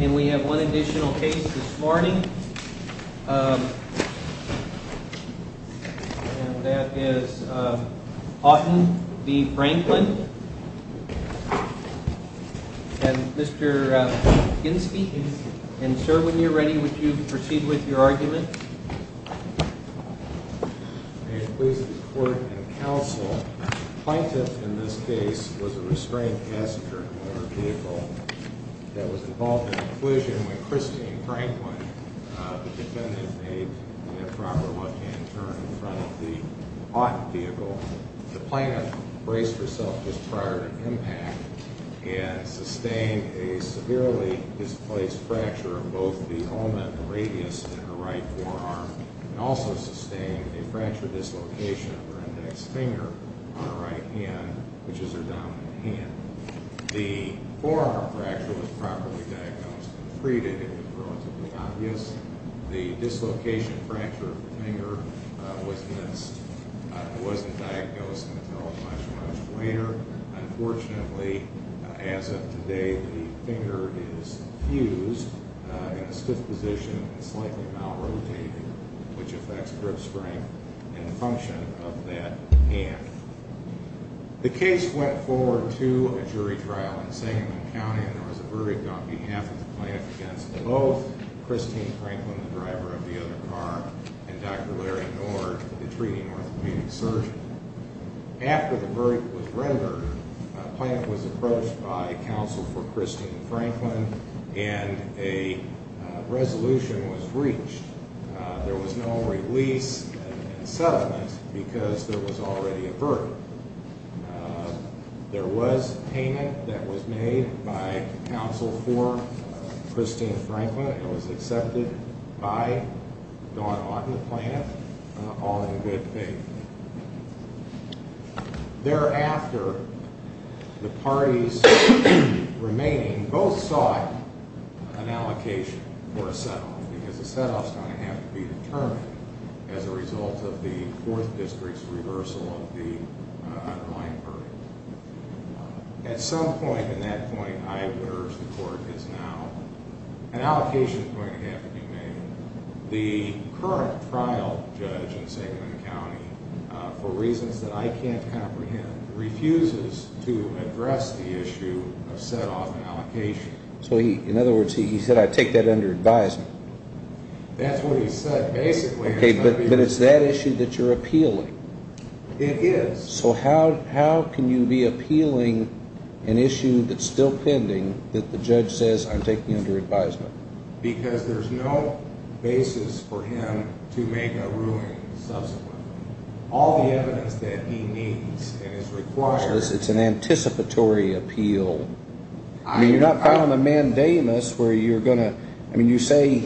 And we have one additional case this morning. And that is Houghton v. Franklin. And Mr. Ginsburg. And sir, when you're ready, would you proceed with your argument? May it please the Court and Counsel, Plaintiff in this case was a restrained passenger in her vehicle that was involved in a collision with Christine Franklin. The defendant made an improper left-hand turn in front of the Houghton vehicle. The plaintiff braced herself just prior to impact and sustained a severely displaced fracture of both the omen and radius in her right forearm and also sustained a fracture dislocation of her index finger on her right hand, which is her dominant hand. The forearm fracture was properly diagnosed and treated. It was relatively obvious. The dislocation and fracture of the finger was missed. It wasn't diagnosed until a much, much later. Unfortunately, as of today, the finger is fused in a stiff position and slightly malrotated, which affects grip strength and the function of that hand. The case went forward to a jury trial in Sangamon County, and there was a verdict on behalf of the plaintiff against both Christine Franklin, the driver of the other car, and Dr. Larry Nord, the treating orthopedic surgeon. After the verdict was rendered, the plaintiff was approached by counsel for Christine Franklin, and a resolution was reached. There was no release and settlement because there was already a verdict. There was payment that was made by counsel for Christine Franklin. It was accepted by Don Otten, the plaintiff, all in good faith. Thereafter, the parties remaining both sought an allocation for a set-off because a set-off is going to have to be determined as a result of the Fourth District's reversal of the underlying verdict. At some point in that point, I would urge the court is now, an allocation is going to have to be made. The current trial judge in Sangamon County, for reasons that I can't comprehend, refuses to address the issue of set-off and allocation. So, in other words, he said, I take that under advisement. That's what he said, basically. Okay, but it's that issue that you're appealing. It is. So how can you be appealing an issue that's still pending that the judge says I'm taking under advisement? Because there's no basis for him to make a ruling subsequently. All the evidence that he needs and is required. So it's an anticipatory appeal. I mean, you're not filing a mandamus where you're going to, I mean, you say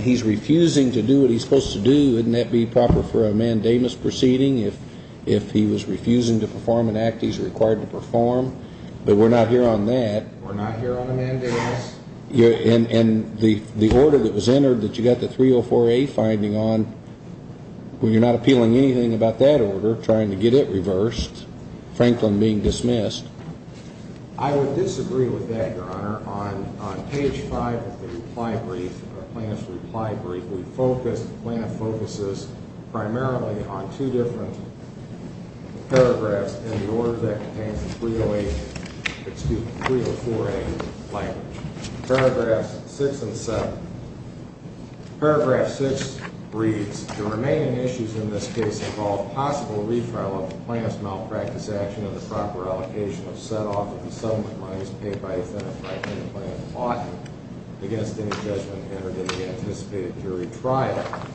he's refusing to do what he's supposed to do. Wouldn't that be proper for a mandamus proceeding if he was refusing to perform an act he's required to perform? But we're not here on that. We're not here on a mandamus. And the order that was entered that you got the 304A finding on, well, you're not appealing anything about that order, trying to get it reversed. Franklin being dismissed. I would disagree with that, Your Honor. On page 5 of the reply brief, the plaintiff's reply brief, the plaintiff focuses primarily on two different paragraphs in the order that contains the 304A language. Paragraphs 6 and 7. Paragraph 6 reads, The remaining issues in this case involve possible refile of the plaintiff's malpractice action and the proper allocation of set-off of the settlement monies paid by defendant Franklin and plaintiff's client against any judgment entered in the anticipated jury trial.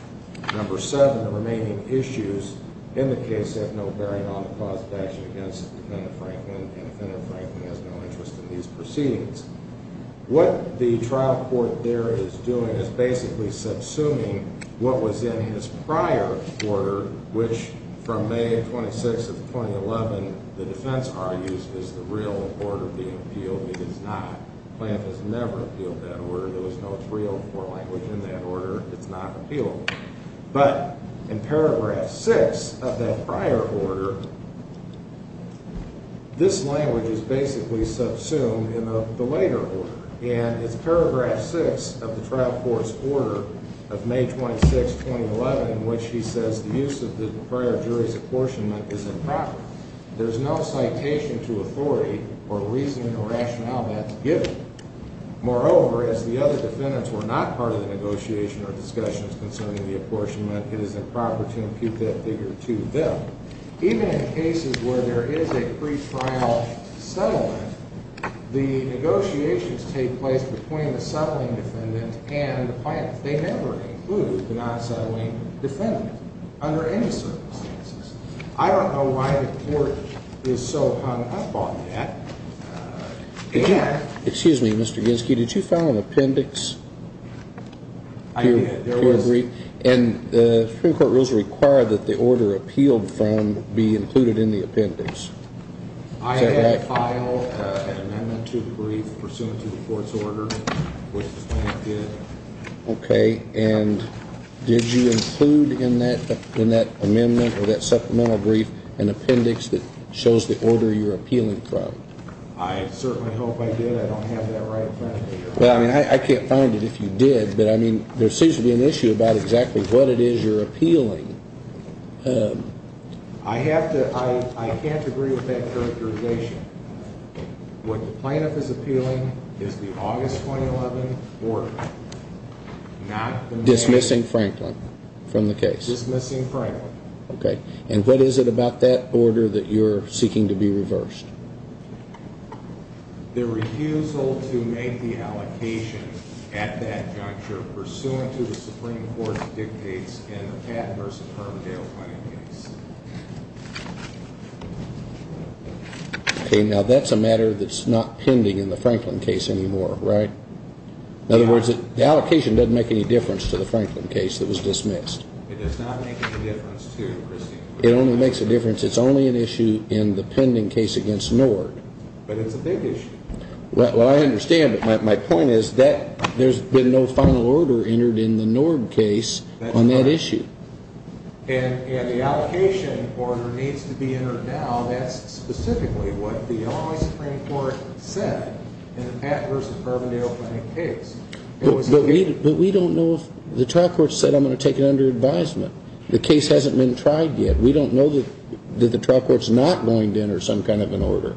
Number 7, the remaining issues in the case have no bearing on the cause of action against defendant Franklin, and defendant Franklin has no interest in these proceedings. What the trial court there is doing is basically subsuming what was in his prior order, which from May 26th of 2011 the defense argues is the real order being appealed. It is not. The plaintiff has never appealed that order. There was no 304 language in that order. It's not appealed. But in paragraph 6 of that prior order, this language is basically subsumed in the later order, and it's paragraph 6 of the trial court's order of May 26th, 2011, in which he says the use of the prior jury's apportionment is improper. There's no citation to authority or reasoning or rationale that's given. Moreover, as the other defendants were not part of the negotiation or discussions concerning the apportionment, it is improper to impute that figure to them. Even in cases where there is a pretrial settlement, the negotiations take place between the settling defendant and the plaintiff. They never include the non-settling defendant under any circumstances. I don't know why the court is so hung up on that. Excuse me, Mr. Ginsky. Did you file an appendix? I did. Do you agree? And the Supreme Court rules require that the order appealed from be included in the appendix. I did file an amendment to the brief pursuant to the court's order, which the plaintiff did. Okay. And did you include in that amendment or that supplemental brief an appendix that shows the order you're appealing from? I certainly hope I did. I don't have that right in front of me right now. I can't find it if you did, but there seems to be an issue about exactly what it is you're appealing. I can't agree with that characterization. What the plaintiff is appealing is the August 2011 order, not the amendment. Dismissing Franklin from the case. Dismissing Franklin. Okay. And what is it about that order that you're seeking to be reversed? The refusal to make the allocation at that juncture pursuant to the Supreme Court's dictates in the Pat versus Permondale case. Okay. Now, that's a matter that's not pending in the Franklin case anymore, right? In other words, the allocation doesn't make any difference to the Franklin case that was dismissed. It does not make any difference to the Christie case. It only makes a difference. It's only an issue in the pending case against Nord. But it's a big issue. Well, I understand, but my point is that there's been no final order entered in the Nord case on that issue. And the allocation order needs to be entered now. That's specifically what the Illinois Supreme Court said in the Pat versus Permondale case. But we don't know if the trial court said I'm going to take it under advisement. The case hasn't been tried yet. We don't know that the trial court's not going to enter some kind of an order.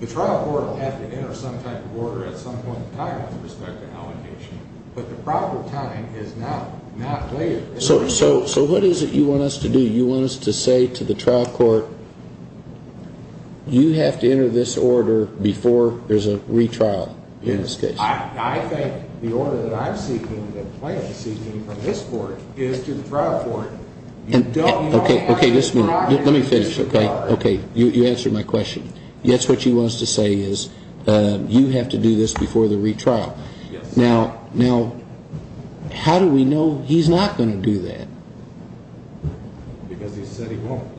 The trial court will have to enter some type of order at some point in time with respect to allocation. But the proper timing is now, not later. So what is it you want us to do? You want us to say to the trial court, you have to enter this order before there's a retrial in this case? I think the order that I'm seeking, the plan seeking from this court, is to the trial court. You don't want to ask the trial court to enter this order. Okay, you answered my question. That's what she wants to say is you have to do this before the retrial. Yes. Now, how do we know he's not going to do that? Because he said he won't.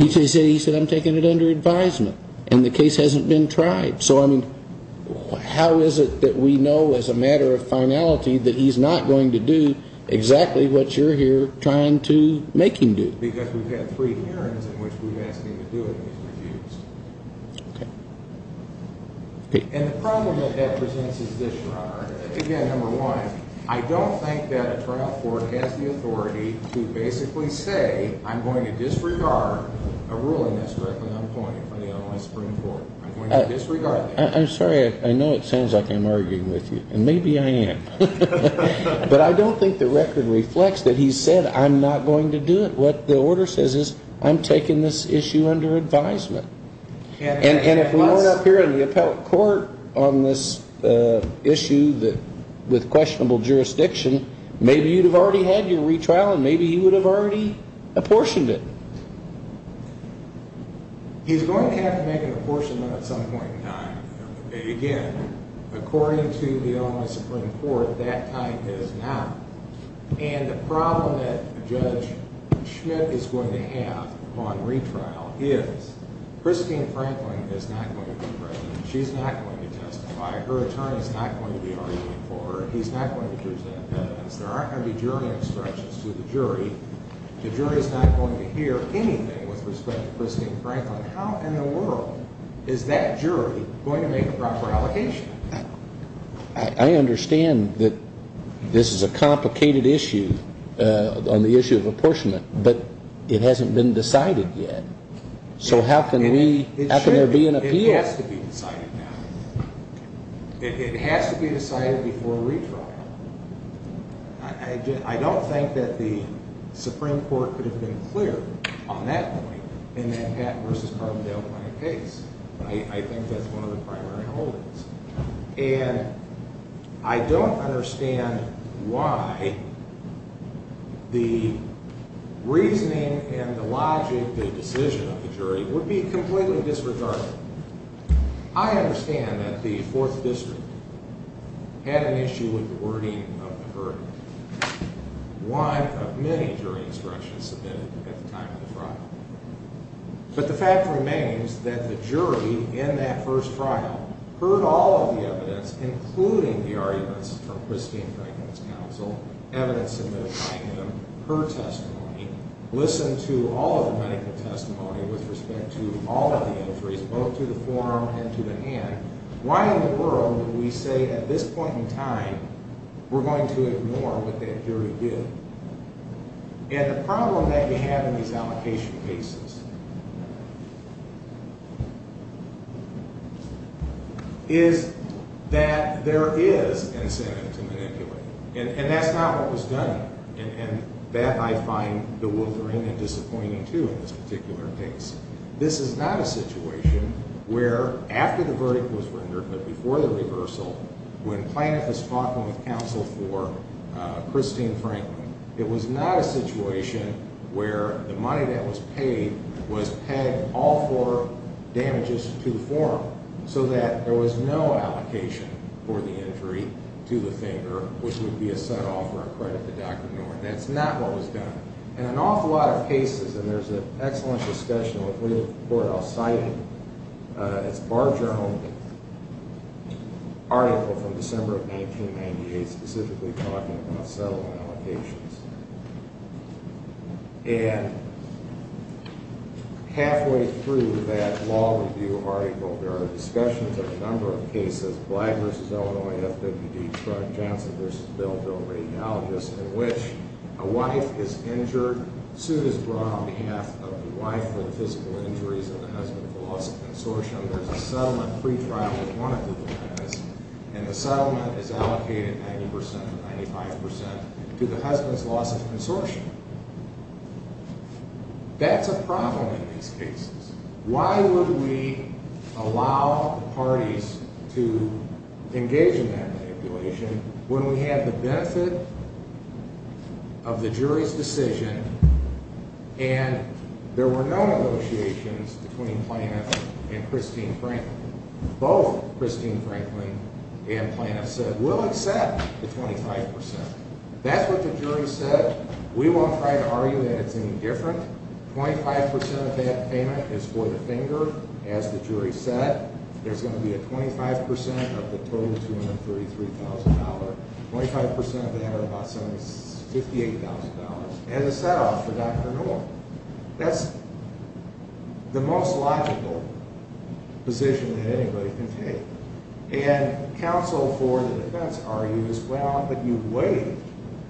He said I'm taking it under advisement. And the case hasn't been tried. So, I mean, how is it that we know as a matter of finality that he's not going to do exactly what you're here trying to make him do? Because we've had three hearings in which we've asked him to do it and he's refused. Okay. And the problem that that presents is this, Your Honor. Again, number one, I don't think that a trial court has the authority to basically say, I'm going to disregard a ruling that's directly unappointed from the Illinois Supreme Court. I'm going to disregard that. I'm sorry. I know it sounds like I'm arguing with you. And maybe I am. But I don't think the record reflects that he said I'm not going to do it. What the order says is I'm taking this issue under advisement. And if we weren't up here in the appellate court on this issue with questionable jurisdiction, maybe you'd have already had your retrial and maybe you would have already apportioned it. He's going to have to make an apportionment at some point in time. Again, according to the Illinois Supreme Court, that time is now. And the problem that Judge Schmidt is going to have on retrial is Christine Franklin is not going to be president. She's not going to testify. Her attorney is not going to be arguing for her. He's not going to present evidence. There aren't going to be jury instructions to the jury. The jury is not going to hear anything with respect to Christine Franklin. How in the world is that jury going to make a proper allocation? I understand that this is a complicated issue on the issue of apportionment, but it hasn't been decided yet. So how can there be an appeal? It has to be decided now. It has to be decided before retrial. I don't think that the Supreme Court could have been clear on that point in that Pat versus Carbondale case. I think that's one of the primary holdings. And I don't understand why the reasoning and the logic, the decision of the jury, would be completely disregarded. I understand that the Fourth District had an issue with the wording of the verdict. One of many jury instructions submitted at the time of the trial. But the fact remains that the jury in that first trial heard all of the evidence, including the arguments from Christine Franklin's counsel, evidence submitted by him, her testimony, listened to all of the medical testimony with respect to all of the injuries, both to the forearm and to the hand. Why in the world would we say at this point in time we're going to ignore what that jury did? And the problem that you have in these allocation cases is that there is an incentive to manipulate. And that's not what was done. And that I find bewildering and disappointing, too, in this particular case. This is not a situation where after the verdict was rendered, but before the reversal, when Planoff is talking with counsel for Christine Franklin, it was not a situation where the money that was paid was pegged all for damages to the forearm, so that there was no allocation for the injury to the finger, which would be a set-off for a credit to Dr. Norton. That's not what was done. In an awful lot of cases, and there's an excellent discussion with legal support I'll cite, it's Barger-Holman's article from December of 1998 specifically talking about settlement allocations. And halfway through that law review article, there are discussions of a number of cases, Black v. Illinois, FWD, Strunk, Johnson v. Bell, Bell Radiologist, in which a wife is injured, suit is brought on behalf of the wife for the physical injuries of the husband for loss of consortium, there's a settlement pre-trial with one of the defendants, and the settlement is allocated 90% or 95% to the husband's loss of consortium. That's a problem in these cases. Why would we allow parties to engage in that manipulation when we have the benefit of the jury's decision and there were no negotiations between Planoff and Christine Franklin. Both Christine Franklin and Planoff said, we'll accept the 25%. That's what the jury said. We won't try to argue that it's any different. 25% of that payment is for the finger, as the jury said. There's going to be a 25% of the total $233,000. 25% of that or about $58,000 as a set-off for Dr. Newell. That's the most logical position that anybody can take. And counsel for the defense argues, well, but you waived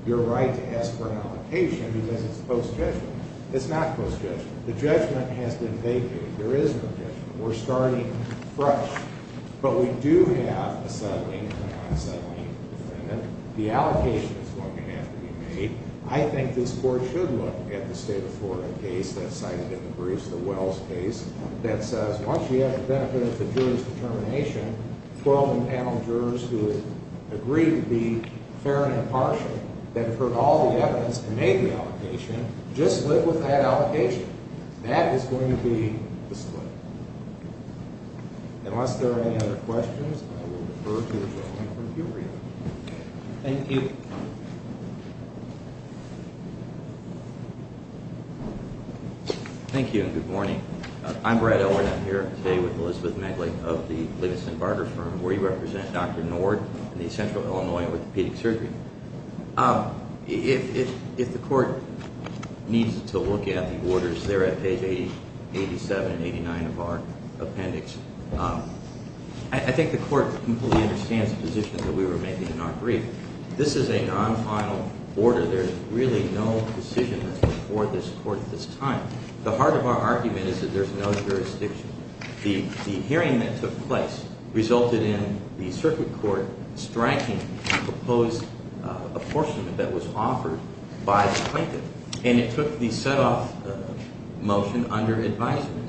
your right to ask for an allocation because it's post-judgment. It's not post-judgment. The judgment has been vacated. There is no judgment. We're starting fresh. But we do have a settlement, a non-settlement for the defendant. The allocation is going to have to be made. I think this Court should look at the state of Florida case that's cited in the briefs, the Wells case, that says once we have the benefit of the jury's determination, 12 and panel jurors who agree to be fair and impartial, that have heard all the evidence and made the allocation, just live with that allocation. That is going to be the split. Unless there are any other questions, I will refer to the gentleman from Puberty. Thank you. Thank you, and good morning. I'm Brad Elward. I'm here today with Elizabeth Megley of the Livingston Barter Firm, where you represent Dr. Nord in the Central Illinois Orthopedic Surgery. If the Court needs to look at the orders, they're at page 87 and 89 of our appendix. I think the Court completely understands the position that we were making in our brief. This is a non-final order. There's really no decision that's before this Court at this time. The heart of our argument is that there's no jurisdiction. The hearing that took place resulted in the Circuit Court striking the proposed apportionment that was offered by the plaintiff, and it took the set-off motion under advisement.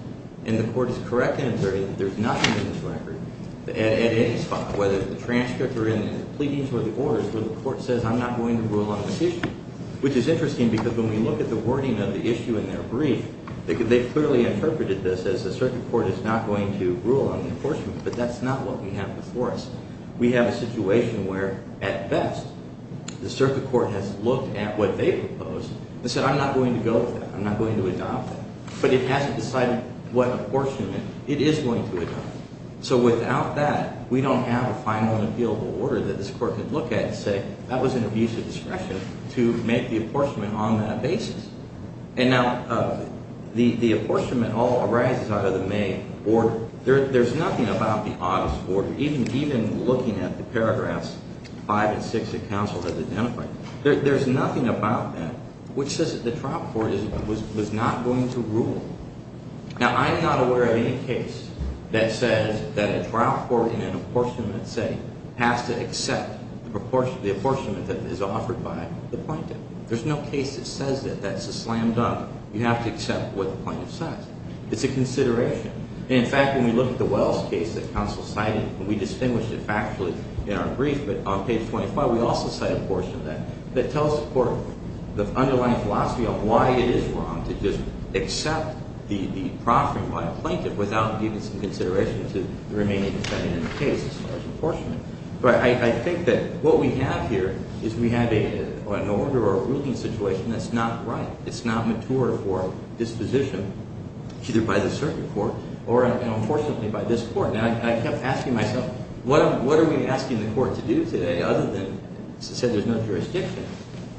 And the Court is correct in asserting that there's nothing in this record, at any spot, whether the transcripts are in the pleadings or the orders, where the Court says, I'm not going to rule on this issue, which is interesting because when we look at the wording of the issue in their brief, they clearly interpreted this as the Circuit Court is not going to rule on the apportionment, but that's not what we have before us. We have a situation where, at best, the Circuit Court has looked at what they proposed and said, I'm not going to go with that. I'm not going to adopt that. But it hasn't decided what apportionment it is going to adopt. So without that, we don't have a final and appealable order that this Court can look at and say, that was an abuse of discretion to make the apportionment on that basis. And now the apportionment all arises out of the May order. There's nothing about the August order, even looking at the paragraphs 5 and 6 that counsel has identified. There's nothing about that which says that the trial court was not going to rule. Now, I'm not aware of any case that says that a trial court in an apportionment setting has to accept the apportionment that is offered by the plaintiff. There's no case that says that. That's a slam dunk. You have to accept what the plaintiff says. It's a consideration. And, in fact, when we look at the Wells case that counsel cited, and we distinguished it factually in our brief, but on page 25, we also cite a portion of that that tells the court the underlying philosophy of why it is wrong to just accept the proffering by a plaintiff without giving some consideration to the remaining defendant in the case as far as apportionment. But I think that what we have here is we have an order or a ruling situation that's not right. It's not mature for disposition, either by the circuit court or, unfortunately, by this Court. And I kept asking myself, what are we asking the Court to do today, other than to say there's no jurisdiction?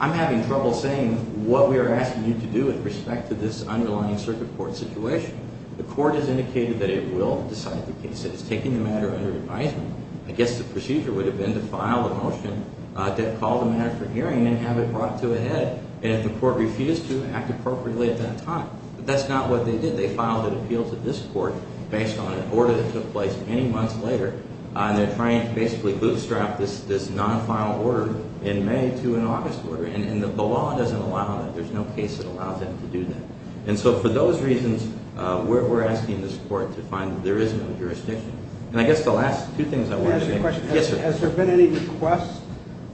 I'm having trouble saying what we are asking you to do with respect to this underlying circuit court situation. The Court has indicated that it will decide the case. It has taken the matter under advisement. I guess the procedure would have been to file a motion to call the matter for hearing and have it brought to a head, and if the Court refused to, act appropriately at that time. But that's not what they did. They filed an appeal to this Court based on an order that took place many months later, and they're trying to basically bootstrap this non-final order in May to an August order. And the law doesn't allow that. There's no case that allows them to do that. And so for those reasons, we're asking this Court to find that there is no jurisdiction. And I guess the last two things I want to say... Can I ask you a question? Yes, sir. Has there been any request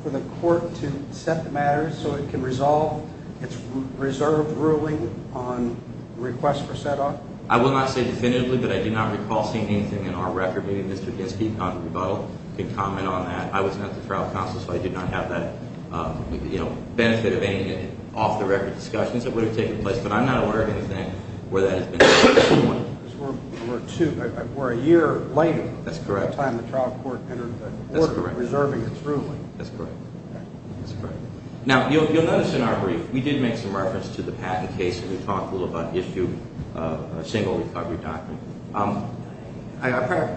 for the Court to set the matter so it can resolve its reserved ruling on request for set-off? I will not say definitively, but I do not recall seeing anything in our record. Maybe Mr. Ginsky on the rebuttal can comment on that. I was not the trial counsel, so I did not have that benefit of any off-the-record discussions that would have taken place. But I'm not aware of anything where that has been done. Because we're a year later... That's correct. ...by the time the trial court entered the Court reserving its ruling. That's correct. Now, you'll notice in our brief, we did make some reference to the Patton case, and we talked a little about issue of a single recovery document.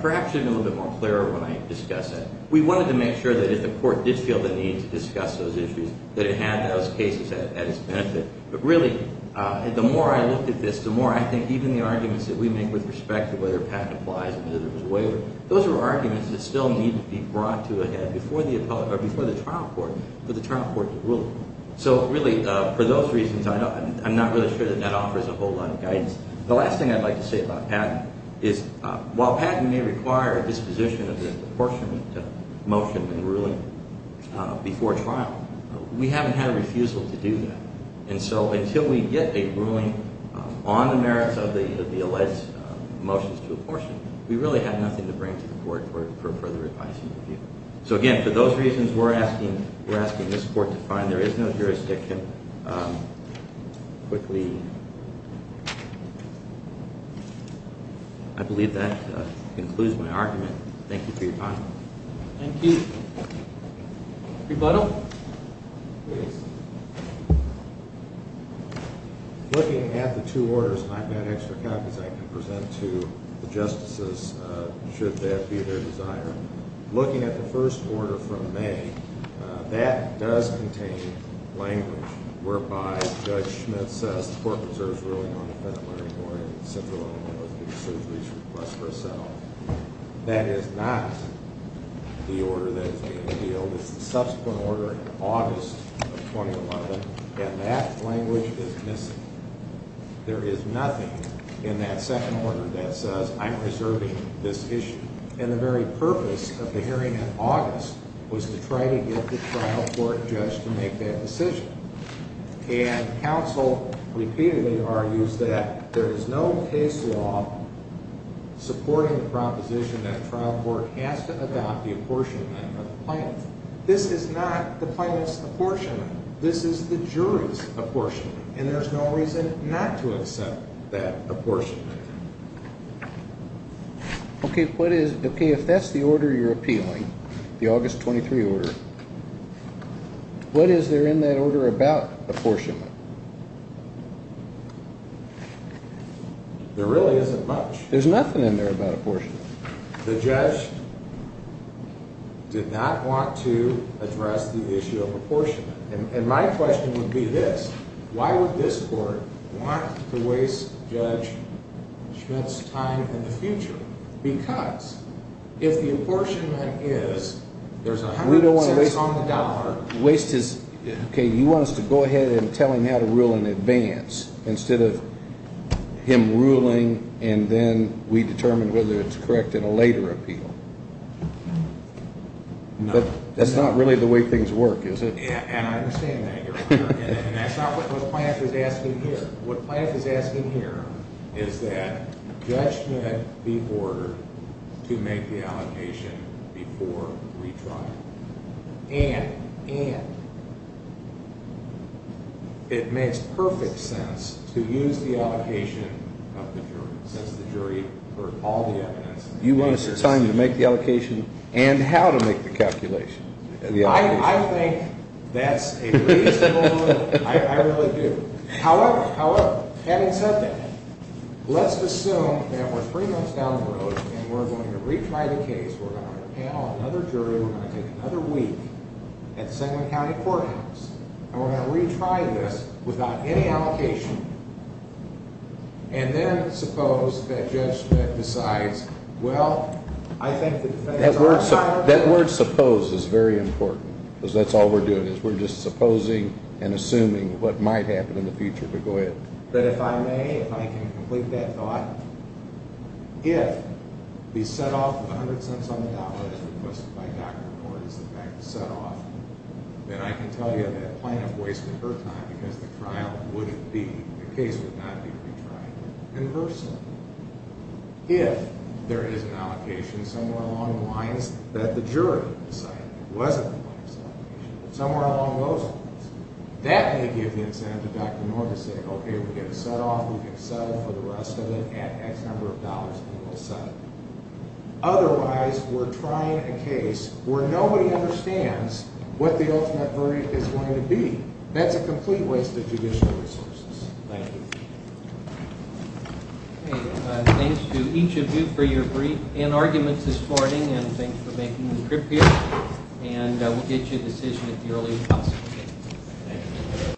Perhaps it would have been a little bit more clear when I discuss it. We wanted to make sure that if the Court did feel the need to discuss those issues, that it had those cases at its benefit. But really, the more I look at this, the more I think even the arguments that we make with respect to whether Patton applies and whether there was a waiver, those are arguments that still need to be brought to a head before the trial court for the trial court to rule. So really, for those reasons, I'm not really sure that that offers a whole lot of guidance. The last thing I'd like to say about Patton is while Patton may require a disposition of the apportionment motion and ruling before trial, we haven't had a refusal to do that. And so until we get a ruling on the merits of the alleged motions to apportionment, we really have nothing to bring to the Court for further advice and review. So again, for those reasons, we're asking this Court to find... I believe that concludes my argument. Thank you for your time. Thank you. Rebuttal, please. Looking at the two orders, I've got extra copies I can present to the justices should that be their desire. Looking at the first order from May, that does contain language whereby Judge Schmitt says the Court preserves ruling on the Federal Learning Board and the Central Illinois Medical Surgery's request for a settlement. That is not the order that is being appealed. It's the subsequent order in August of 2011, and that language is missing. There is nothing in that second order that says I'm reserving this issue. And the very purpose of the hearing in August was to try to get the trial court judge to make that decision. And counsel repeatedly argues that there is no case law supporting the proposition that a trial court has to adopt the apportionment of the plaintiff. This is not the plaintiff's apportionment. This is the jury's apportionment, and there's no reason not to accept that apportionment. Okay, if that's the order you're appealing, the August 23 order, what is there in that order about apportionment? There really isn't much. There's nothing in there about apportionment. The judge did not want to address the issue of apportionment. And my question would be this. Why would this court want to waste Judge Schmidt's time in the future? Because if the apportionment is, there's a hundred percent on the dollar. Okay, you want us to go ahead and tell him how to rule in advance instead of him ruling, and then we determine whether it's correct in a later appeal. But that's not really the way things work, is it? And I understand that, Your Honor. And that's not what the plaintiff is asking here. What the plaintiff is asking here is that Judge Schmidt be ordered to make the allocation before retrial. And it makes perfect sense to use the allocation of the jury, since the jury heard all the evidence. You want us to tell him to make the allocation and how to make the calculation. I think that's a reasonable rule. I really do. However, having said that, let's assume that we're three months down the road and we're going to retry the case. We're going to panel another jury. We're going to take another week at the Sengler County Courthouse. And we're going to retry this without any allocation. And then suppose that Judge Schmidt decides, well, I think the defense… That word suppose is very important. Because that's all we're doing is we're just supposing and assuming what might happen in the future. But go ahead. But if I may, if I can complete that thought, if the set-off of $100 on the dollar as requested by Dr. McCord is in fact the set-off, then I can tell you that plaintiff wasted her time because the trial wouldn't be, the case would not be retried in person. If there is an allocation somewhere along the lines that the jury decided wasn't the plaintiff's allocation, somewhere along those lines, that may give the incentive to Dr. Moore to say, okay, we get a set-off. We can settle for the rest of it at X number of dollars and we'll settle. Otherwise, we're trying a case where nobody understands what the ultimate verdict is going to be. That's a complete waste of judicial resources. Thank you. Okay. Thanks to each of you for your brief and arguments this morning and thanks for making the trip here. And we'll get you a decision at the earliest possible date. Thank you.